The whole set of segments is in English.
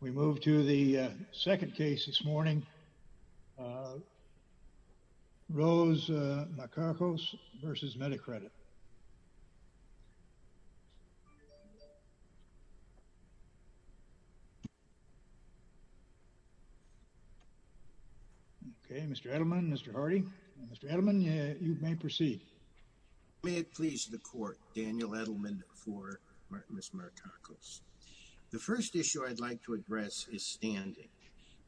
We move to the second case this morning. Rose Markakos v. Medicredit. Okay, Mr. Edelman, Mr. Hardy. Mr. Edelman, you may proceed. May it please the court, Daniel Edelman for Ms. Markakos. The first issue I'd like to address is standing.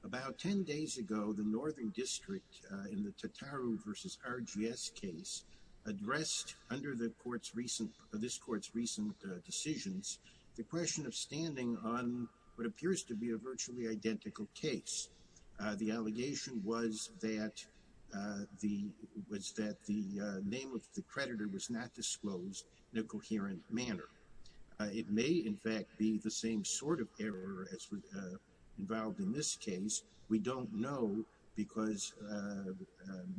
About ten days ago, the Northern District, in the Tataru v. RGS case, addressed, under this court's recent decisions, the question of standing on what appears to be a virtually identical case. The allegation was that the name of the creditor was not disclosed in a coherent manner. It may, in fact, be the same sort of error as was involved in this case. We don't know because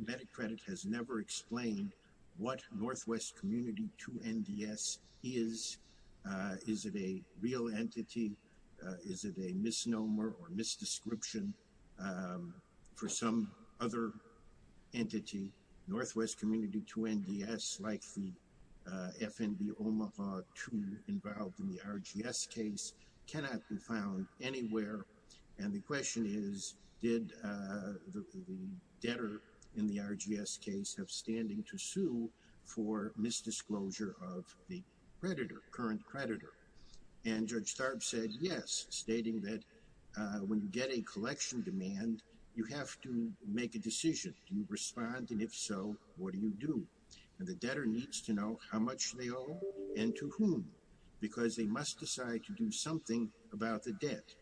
Medicredit has never explained what Northwest Community 2 NDS is. Is it a real entity? Is it a misnomer or misdescription for some other entity? Northwest Community 2 NDS, like the FNB Omaha 2 involved in the RGS case, cannot be found anywhere. And the question is, did the debtor in the RGS case have standing to sue for misdisclosure of the creditor, current creditor? And Judge Tharp said yes, stating that when you get a collection demand, you have to make a decision. Do you respond? And if so, what do you do? And the debtor needs to know how much they owe and to whom, because they must decide to do something about the debt,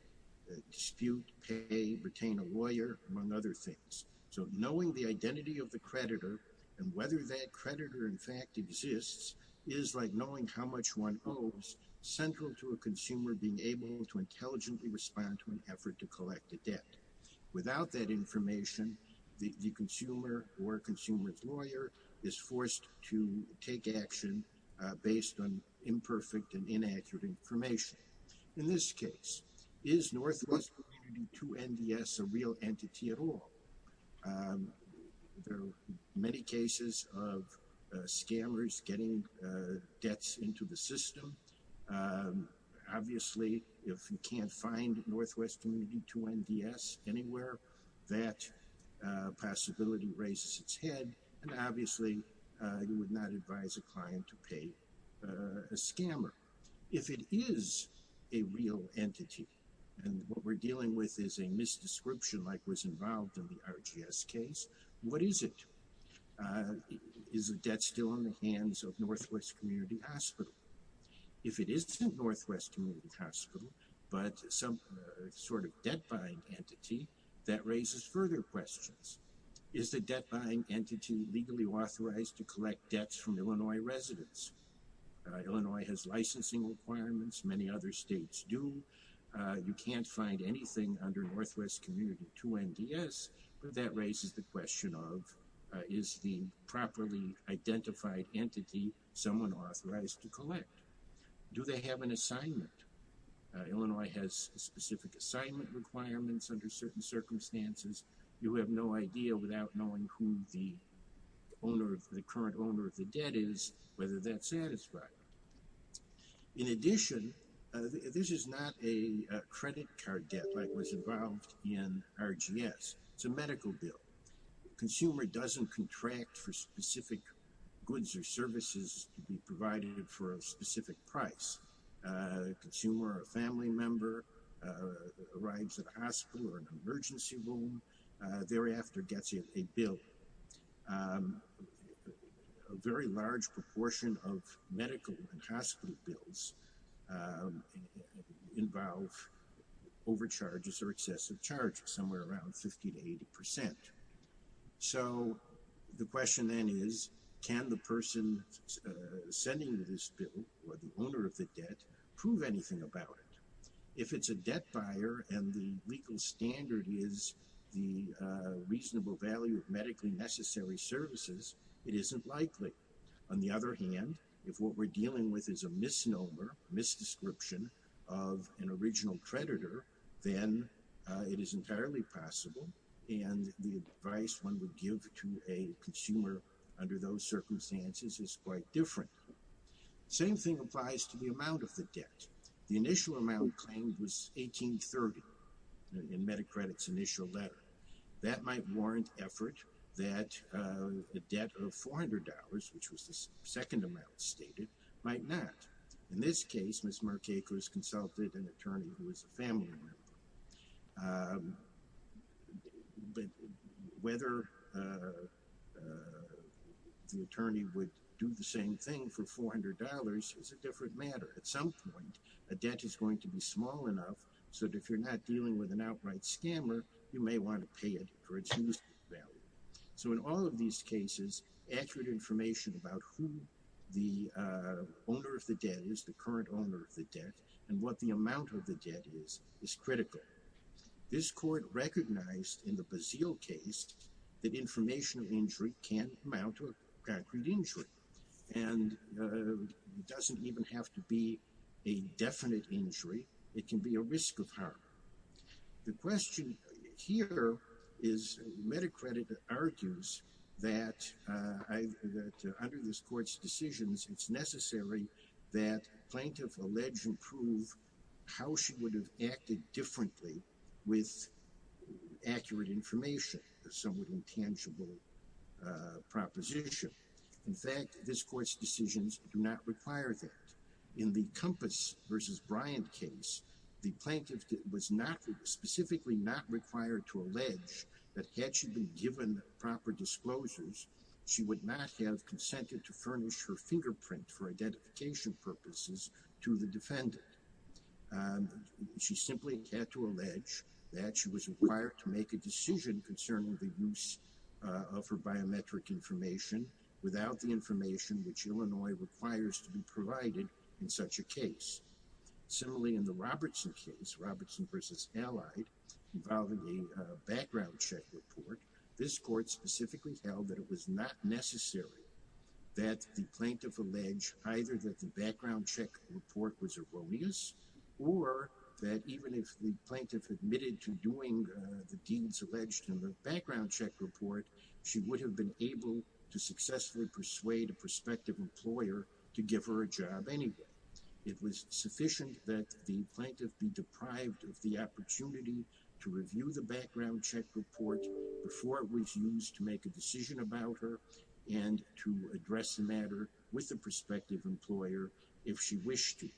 dispute, pay, retain a lawyer, among other things. So knowing the identity of the creditor and whether that creditor in fact exists is like knowing how much one owes, central to a consumer being able to intelligently respond to an effort to collect a debt. Without that information, the consumer or consumer's lawyer is forced to take action based on imperfect and inaccurate information. In this case, is Northwest Community 2 NDS a real entity at all? There are many cases of scammers getting debts into the system. Obviously, if you can't find Northwest Community 2 NDS anywhere, that possibility raises its head. And obviously, you would not advise a client to pay a scammer. If it is a real entity and what we're dealing with is a misdescription like was involved in the RGS case, what is it? Is the debt still in the hands of Northwest Community Hospital? If it isn't Northwest Community Hospital, but some sort of debt-buying entity, that raises further questions. Is the debt-buying entity legally authorized to collect debts from Illinois residents? Illinois has licensing requirements. Many other states do. You can't find anything under Northwest Community 2 NDS, but that raises the question of, is the properly identified entity someone authorized to collect? Do they have an assignment? Illinois has specific assignment requirements under certain circumstances. You have no idea, without knowing who the current owner of the debt is, whether that's satisfied. In addition, this is not a credit card debt like was involved in RGS. It's a medical bill. Consumer doesn't contract for specific goods or services to be provided for a specific price. Consumer or a family member arrives at a hospital or an emergency room, thereafter gets a bill. A very large proportion of medical and hospital bills involve overcharges or excessive charges, somewhere around 50 to 80%. So, the question then is, can the person sending this bill, or the owner of the debt, prove anything about it? If it's a debt buyer and the legal standard is the reasonable value of medically necessary services, it isn't likely. On the other hand, if what we're dealing with is a misnomer, misdescription of an original creditor, then it is entirely possible. And the advice one would give to a consumer under those circumstances is quite different. Same thing applies to the amount of the debt. The initial amount claimed was $1,830 in MediCredit's initial letter. That might warrant effort that the debt of $400, which was the second amount stated, might not. In this case, Ms. Marquekos consulted an attorney who was a family member. But whether the attorney would do the same thing for $400 is a different matter. At some point, a debt is going to be small enough so that if you're not dealing with an outright scammer, you may want to pay it for its reasonable value. So, in all of these cases, accurate information about who the owner of the debt is, the current owner of the debt, and what the amount of the debt is, is critical. This court recognized in the Bazille case that information of injury can amount to a concrete injury. And it doesn't even have to be a definite injury. It can be a risk of harm. The question here is MediCredit argues that under this court's decisions, it's necessary that a plaintiff allege and prove how she would have acted differently with accurate information, a somewhat intangible proposition. In fact, this court's decisions do not require that. In the Compass v. Bryant case, the plaintiff was specifically not required to allege that had she been given proper disclosures, she would not have consented to furnish her fingerprint for identification purposes to the defendant. She simply had to allege that she was required to make a decision concerning the use of her biometric information without the information which Illinois requires to be provided in such a case. Similarly, in the Robertson case, Robertson v. Allied, involving a background check report, this court specifically held that it was not necessary that the plaintiff allege either that the background check report was erroneous, or that even if the plaintiff admitted to doing the deeds alleged in the background check report, she would have been able to successfully persuade a prospective employer to give her a job anyway. It was sufficient that the plaintiff be deprived of the opportunity to review the background check report before it was used to make a decision about her and to address the matter with the prospective employer if she wished to.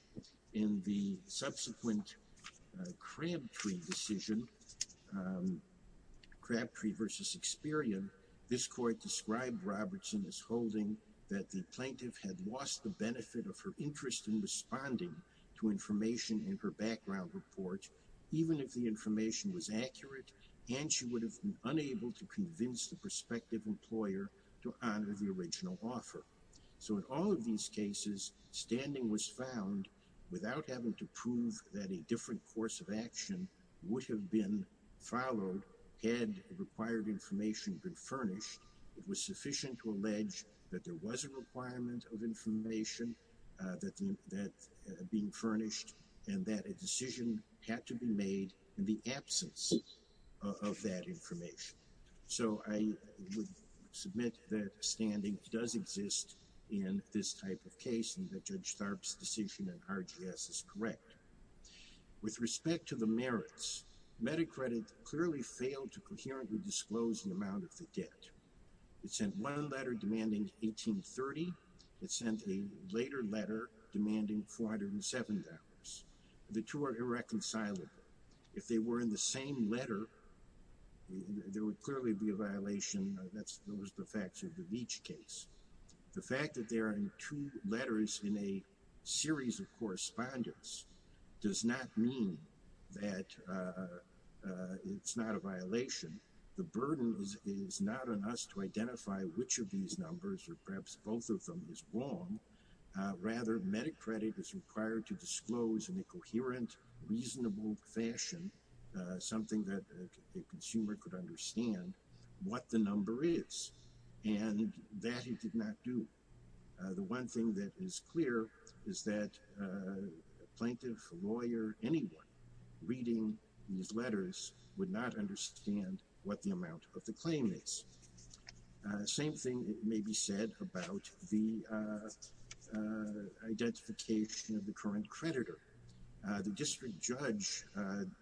In the subsequent Crabtree decision, Crabtree v. Experian, this court described Robertson as holding that the plaintiff had lost the benefit of her interest in responding to information in her background report, even if the information was accurate, and she would have been unable to convince the prospective employer to honor the original offer. So in all of these cases, standing was found without having to prove that a different course of action would have been followed had required information been furnished. It was sufficient to allege that there was a requirement of information that being furnished and that a decision had to be made in the absence of that information. So I would submit that standing does exist in this type of case and that Judge Tharp's decision in RGS is correct. With respect to the merits, MediCredit clearly failed to coherently disclose the amount of the debt. It sent one letter demanding $1830. It sent a later letter demanding $407. The two are irreconcilable. If they were in the same letter, there would clearly be a violation. Those are the facts of each case. The fact that they are in two letters in a series of correspondence does not mean that it's not a violation. The burden is not on us to identify which of these numbers or perhaps both of them is wrong. Rather, MediCredit is required to disclose in a coherent, reasonable fashion something that a consumer could understand what the number is. And that it did not do. The one thing that is clear is that a plaintiff, a lawyer, anyone reading these letters would not understand what the amount of the claim is. Same thing may be said about the identification of the current creditor. The district judge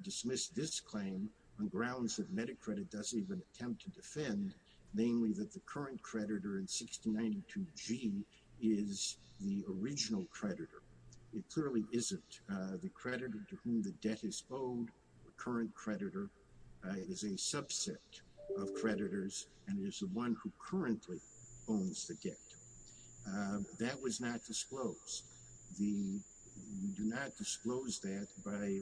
dismissed this claim on grounds that MediCredit doesn't even attempt to defend, namely that the current creditor in 6092G is the original creditor. It clearly isn't. The creditor to whom the debt is owed, the current creditor, is a subset of creditors and is the one who currently owns the debt. That was not disclosed. We do not disclose that by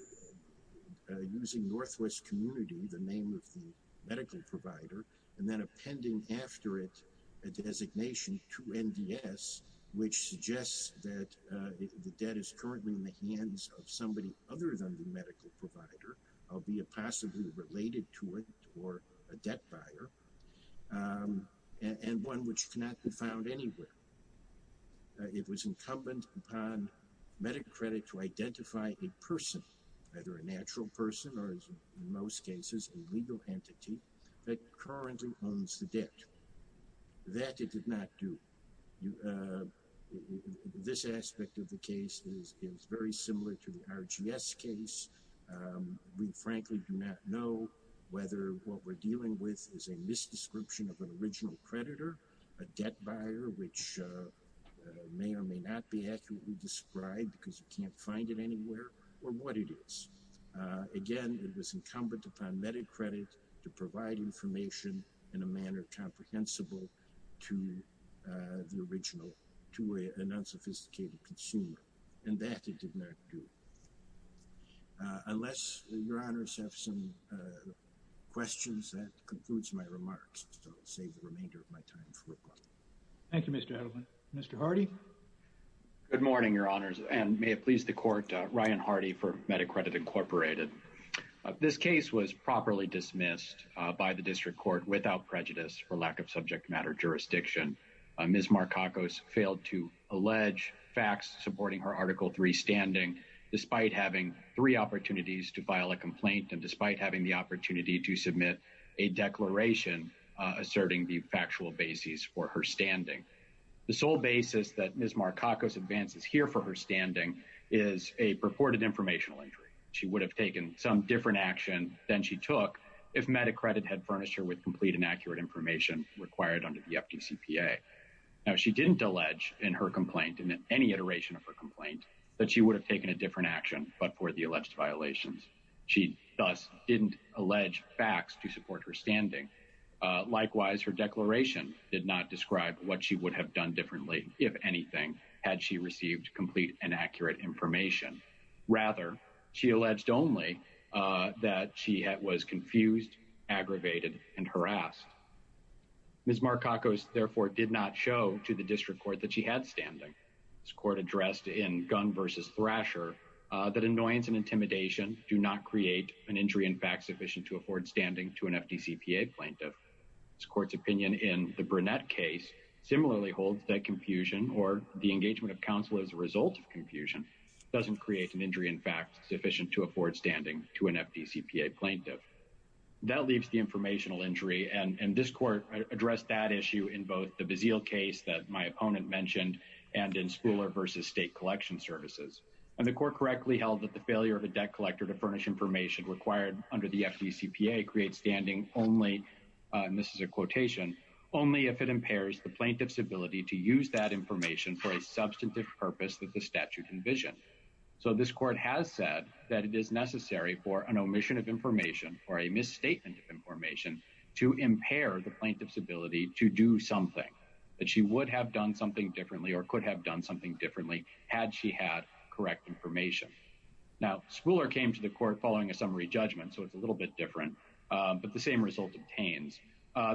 using Northwest Community, the name of the medical provider, and then appending after it a designation to NDS, which suggests that the debt is currently in the hands of somebody other than the medical provider, albeit possibly related to it or a debt buyer, and one which cannot be found anywhere. It was incumbent upon MediCredit to identify a person, either a natural person or, in most cases, a legal entity that currently owns the debt. That it did not do. This aspect of the case is very similar to the RGS case. We frankly do not know whether what we're dealing with is a misdescription of an original creditor, a debt buyer, which may or may not be accurately described because you can't find it anywhere, or what it is. Again, it was incumbent upon MediCredit to provide information in a manner comprehensible to the original, to an unsophisticated consumer. And that it did not do. Unless your honors have some questions, that concludes my remarks. So I'll save the remainder of my time for questions. Thank you, Mr. Edelman. Mr. Hardy? Good morning, your honors, and may it please the court, Ryan Hardy for MediCredit, Incorporated. This case was properly dismissed by the district court without prejudice or lack of subject matter jurisdiction. Ms. Marcacos failed to allege facts supporting her Article 3 standing, despite having three opportunities to file a complaint and despite having the opportunity to submit a declaration asserting the factual basis for her standing. The sole basis that Ms. Marcacos advances here for her standing is a purported informational injury. She would have taken some different action than she took if MediCredit had furnished her with complete and accurate information required under the FDCPA. Now, she didn't allege in her complaint, in any iteration of her complaint, that she would have taken a different action but for the alleged violations. She, thus, didn't allege facts to support her standing. Likewise, her declaration did not describe what she would have done differently, if anything, had she received complete and accurate information. Rather, she alleged only that she was confused, aggravated, and harassed. Ms. Marcacos, therefore, did not show to the district court that she had standing. This court addressed in Gunn v. Thrasher that annoyance and intimidation do not create an injury in facts sufficient to afford standing to an FDCPA plaintiff. This court's opinion in the Burnett case similarly holds that confusion or the engagement of counsel as a result of confusion doesn't create an injury in facts sufficient to afford standing to an FDCPA plaintiff. That leaves the informational injury, and this court addressed that issue in both the Bazille case that my opponent mentioned and in Spooler v. State Collection Services. And the court correctly held that the failure of a debt collector to furnish information required under the FDCPA creates standing only, and this is a quotation, only if it impairs the plaintiff's ability to use that information for a substantive purpose that the statute envisioned. So this court has said that it is necessary for an omission of information or a misstatement of information to impair the plaintiff's ability to do something, that she would have done something differently or could have done something differently had she had correct information. Now, Spooler came to the court following a summary judgment, so it's a little bit different, but the same result obtains.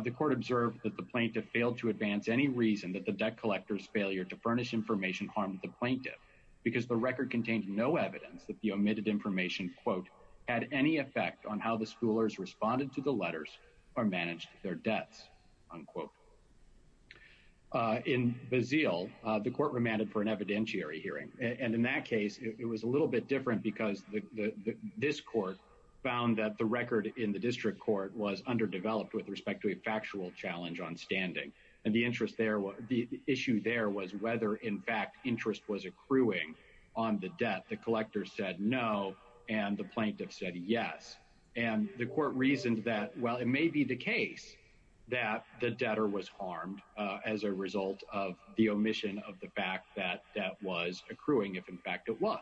The court observed that the plaintiff failed to advance any reason that the debt collector's failure to furnish information harmed the plaintiff because the record contained no evidence that the omitted information, quote, had any effect on how the schoolers responded to the letters or managed their debts, unquote. In Bazille, the court remanded for an evidentiary hearing, and in that case, it was a little bit different because this court found that the record in the district court was underdeveloped with respect to a factual challenge on standing. And the issue there was whether, in fact, interest was accruing on the debt. The collector said no, and the plaintiff said yes. And the court reasoned that, well, it may be the case that the debtor was harmed as a result of the omission of the fact that that was accruing if, in fact, it was.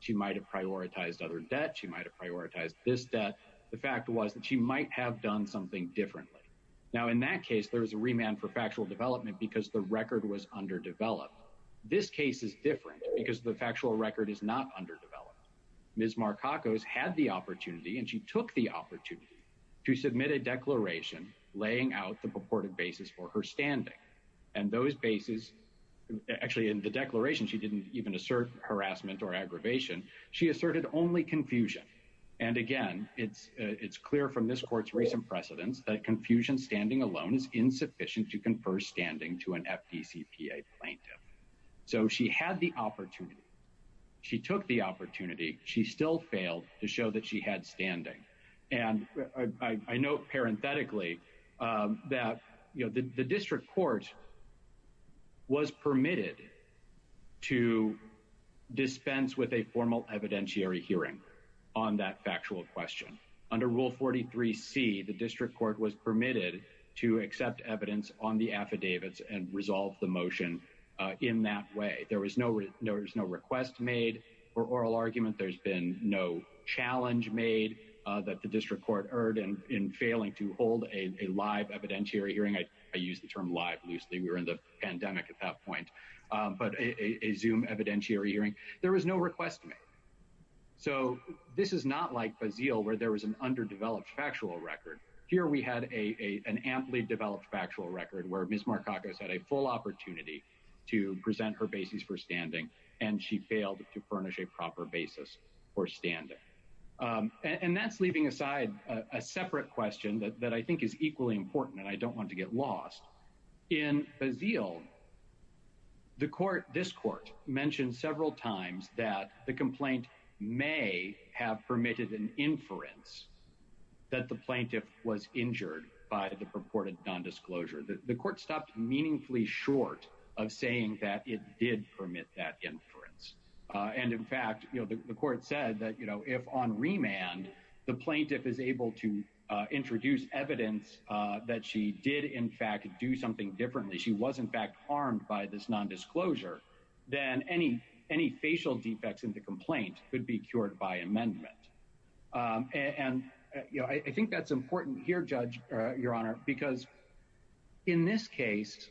She might have prioritized other debt. She might have prioritized this debt. The fact was that she might have done something differently. Now, in that case, there was a remand for factual development because the record was underdeveloped. This case is different because the factual record is not underdeveloped. Ms. Marcacos had the opportunity and she took the opportunity to submit a declaration laying out the purported basis for her standing. And those bases actually in the declaration, she didn't even assert harassment or aggravation. She asserted only confusion. And, again, it's clear from this court's recent precedents that confusion standing alone is insufficient to confer standing to an FDCPA plaintiff. So she had the opportunity. She took the opportunity. She still failed to show that she had standing. And I note parenthetically that the district court was permitted to dispense with a formal evidentiary hearing on that factual question. Under Rule 43C, the district court was permitted to accept evidence on the affidavits and resolve the motion in that way. There was no request made or oral argument. There's been no challenge made that the district court erred in failing to hold a live evidentiary hearing. I use the term live loosely. We were in the pandemic at that point. But a Zoom evidentiary hearing. There was no request made. So this is not like Bazille where there was an underdeveloped factual record. Here we had an amply developed factual record where Ms. Markakis had a full opportunity to present her basis for standing, and she failed to furnish a proper basis for standing. And that's leaving aside a separate question that I think is equally important, and I don't want to get lost. In Bazille, this court mentioned several times that the complaint may have permitted an inference that the plaintiff was injured by the purported nondisclosure. The court stopped meaningfully short of saying that it did permit that inference. And in fact, the court said that if on remand the plaintiff is able to introduce evidence that she did in fact do something differently, she was in fact harmed by this nondisclosure, then any facial defects in the complaint could be cured by amendment. And I think that's important here, Judge, Your Honor, because in this case,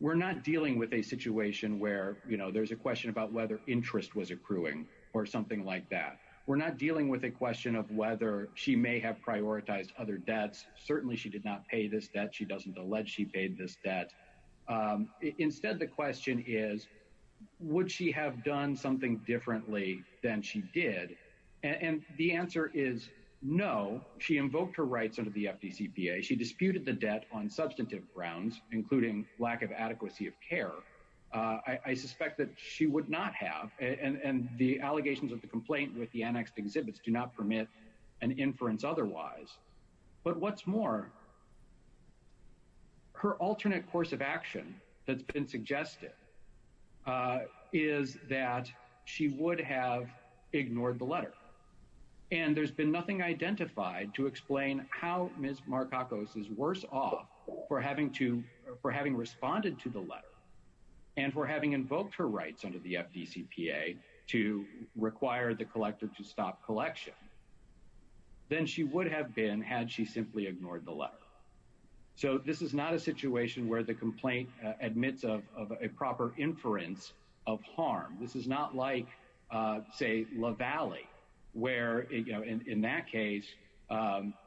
we're not dealing with a situation where there's a question about whether interest was accruing or something like that. We're not dealing with a question of whether she may have prioritized other debts. Certainly she did not pay this debt. She doesn't allege she paid this debt. Instead, the question is, would she have done something differently than she did? And the answer is no. She invoked her rights under the FDCPA. She disputed the debt on substantive grounds, including lack of adequacy of care. I suspect that she would not have. And the allegations of the complaint with the annexed exhibits do not permit an inference otherwise. But what's more? Her alternate course of action that's been suggested is that she would have ignored the letter. And there's been nothing identified to explain how Ms. Marcacos is worse off for having responded to the letter and for having invoked her rights under the FDCPA to require the collector to stop collection than she would have been had she simply ignored the letter. So this is not a situation where the complaint admits of a proper inference of harm. This is not like, say, La Valley, where, you know, in that case,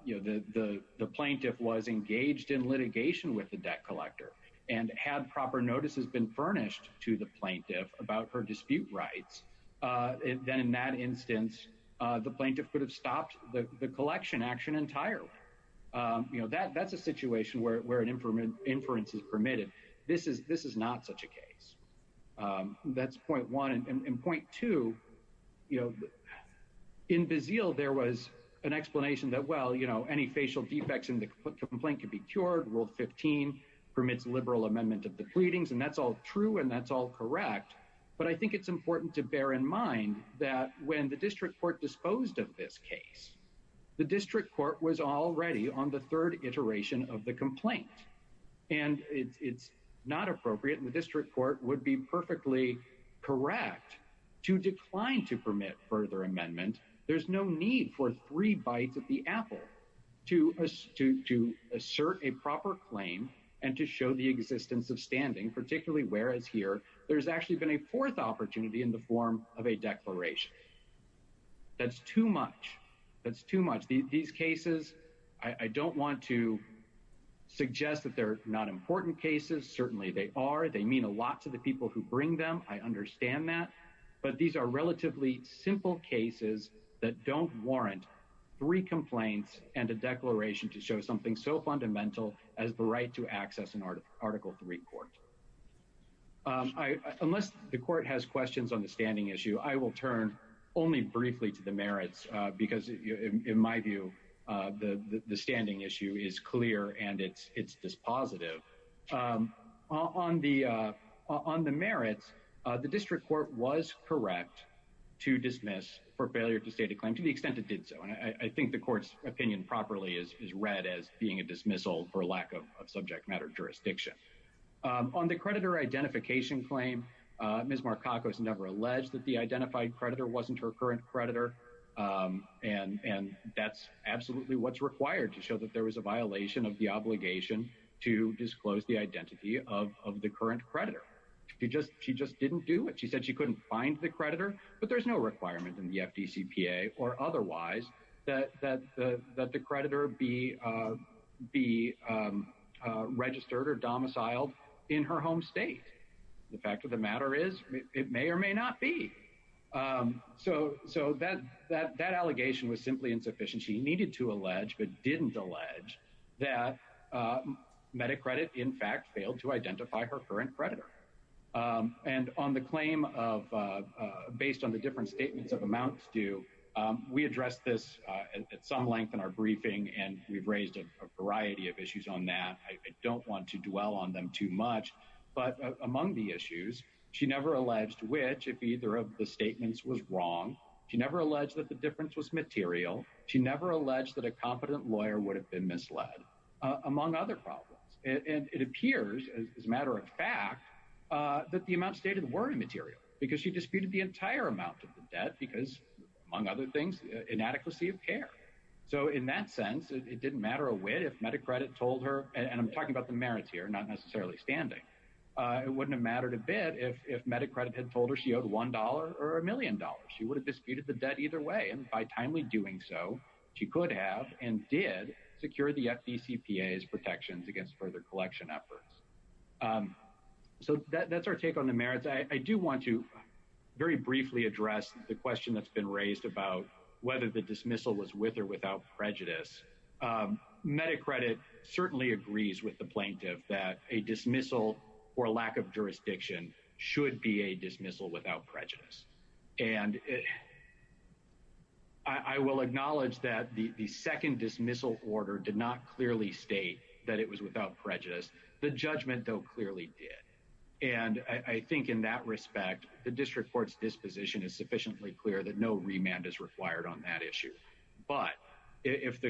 you know, the plaintiff was engaged in litigation with the debt collector and had proper notices been furnished to the plaintiff about her dispute rights. Then in that instance, the plaintiff could have stopped the collection action entirely. You know, that's a situation where an inference is permitted. This is not such a case. That's point one. And point two, you know, in Bazille, there was an explanation that, well, you know, any facial defects in the complaint could be cured. Rule 15 permits liberal amendment of the pleadings. And that's all true and that's all correct. But I think it's important to bear in mind that when the district court disposed of this case, the district court was already on the third iteration of the complaint. And it's not appropriate and the district court would be perfectly correct to decline to permit further amendment. There's no need for three bites at the apple to assert a proper claim and to show the existence of standing, particularly whereas here there's actually been a fourth opportunity in the form of a declaration. That's too much. That's too much. These cases, I don't want to suggest that they're not important cases. Certainly they are. They mean a lot to the people who bring them. I understand that. But these are relatively simple cases that don't warrant three complaints and a declaration to show something so fundamental as the right to access an article three court. Unless the court has questions on the standing issue, I will turn only briefly to the merits, because in my view, the standing issue is clear and it's dispositive on the on the merits. The district court was correct to dismiss for failure to state a claim to the extent it did. And I think the court's opinion properly is read as being a dismissal for lack of subject matter jurisdiction on the creditor identification claim. Ms. Markakos never alleged that the identified creditor wasn't her current creditor. And and that's absolutely what's required to show that there was a violation of the obligation to disclose the identity of the current creditor. She just she just didn't do it. She said she couldn't find the creditor. But there's no requirement in the FDCPA or otherwise that that that the creditor be be registered or domiciled in her home state. The fact of the matter is, it may or may not be. So so that that that allegation was simply insufficient. She needed to allege, but didn't allege that MediCredit, in fact, failed to identify her current creditor. And on the claim of based on the different statements of amounts due, we addressed this at some length in our briefing. And we've raised a variety of issues on that. I don't want to dwell on them too much. But among the issues she never alleged, which if either of the statements was wrong, she never alleged that the difference was material. She never alleged that a competent lawyer would have been misled, among other problems. And it appears as a matter of fact that the amount stated were immaterial because she disputed the entire amount of the debt because, among other things, inadequacy of care. So in that sense, it didn't matter a way if MediCredit told her. And I'm talking about the merits here, not necessarily standing. It wouldn't have mattered a bit if MediCredit had told her she owed one dollar or a million dollars. She would have disputed the debt either way. And by timely doing so, she could have and did secure the FDCPA protections against further collection efforts. So that's our take on the merits. I do want to very briefly address the question that's been raised about whether the dismissal was with or without prejudice. MediCredit certainly agrees with the plaintiff that a dismissal or lack of jurisdiction should be a dismissal without prejudice. And I will acknowledge that the second dismissal order did not clearly state that it was without prejudice. The judgment, though, clearly did. And I think in that respect, the district court's disposition is sufficiently clear that no remand is required on that issue. But if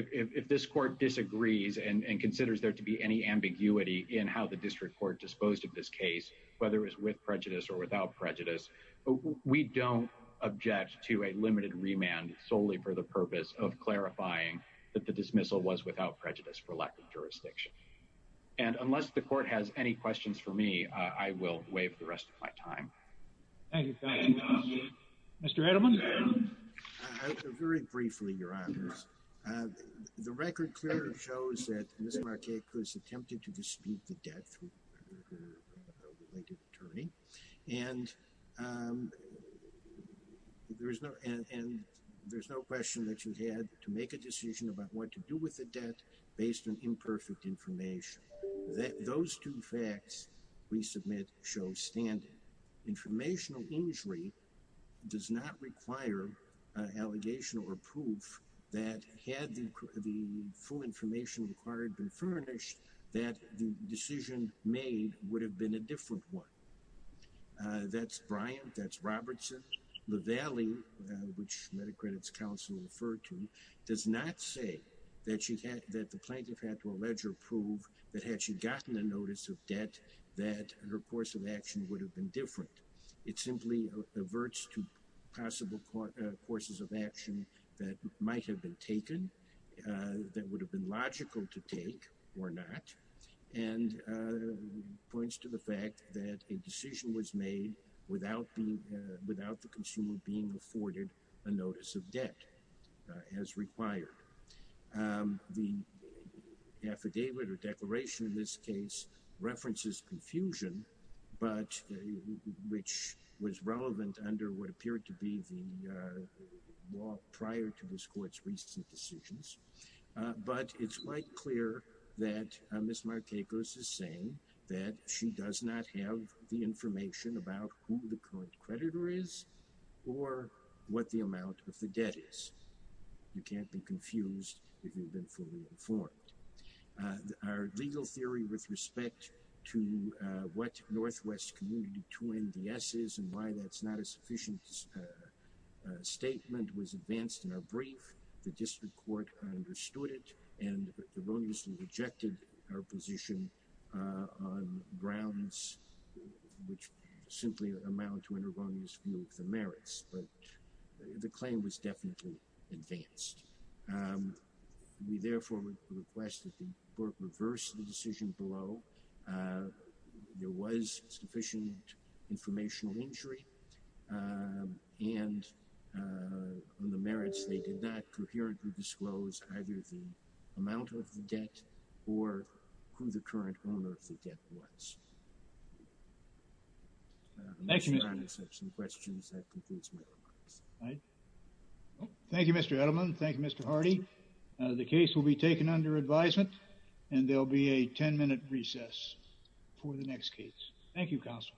this court disagrees and considers there to be any ambiguity in how the district court disposed of this case, whether it was with prejudice or without prejudice, we don't object to a limited remand solely for the purpose of clarifying that the dismissal was without prejudice for lack of jurisdiction. And unless the court has any questions for me, I will waive the rest of my time. Thank you. Mr. Edelman. Very briefly, Your Honors. The record clearly shows that Ms. Markeko has attempted to dispute the debt through her related attorney. And there's no question that she had to make a decision about what to do with the debt based on imperfect information. Those two facts we submit show standing. Informational injury does not require an allegation or proof that had the full information required been furnished that the decision made would have been a different one. That's Bryant. That's Robertson. The valley, which MediCredit's counsel referred to, does not say that she had that the plaintiff had to allege or prove that had she gotten a notice of debt, that her course of action would have been different. It simply averts to possible courses of action that might have been taken, that would have been logical to take or not, and points to the fact that a decision was made without the consumer being afforded a notice of debt as required. The affidavit or declaration in this case references confusion, but which was relevant under what appeared to be the law prior to this court's recent decisions. But it's quite clear that Ms. Markeko is saying that she does not have the information about who the current creditor is or what the amount of the debt is. You can't be confused if you've been fully informed. Our legal theory with respect to what Northwest Community 2NDS is and why that's not a sufficient statement was advanced in our brief. The district court understood it and erroneously rejected our position on grounds which simply amount to an erroneous view of the merits, but the claim was definitely advanced. We therefore request that the court reverse the decision below. There was sufficient informational injury, and on the merits they did not coherently disclose either the amount of the debt or who the current owner of the debt was. Thank you, Mr. Edelman. Thank you, Mr. Hardy. The case will be taken under advisement, and there will be a 10-minute recess for the next case. Thank you, counsel.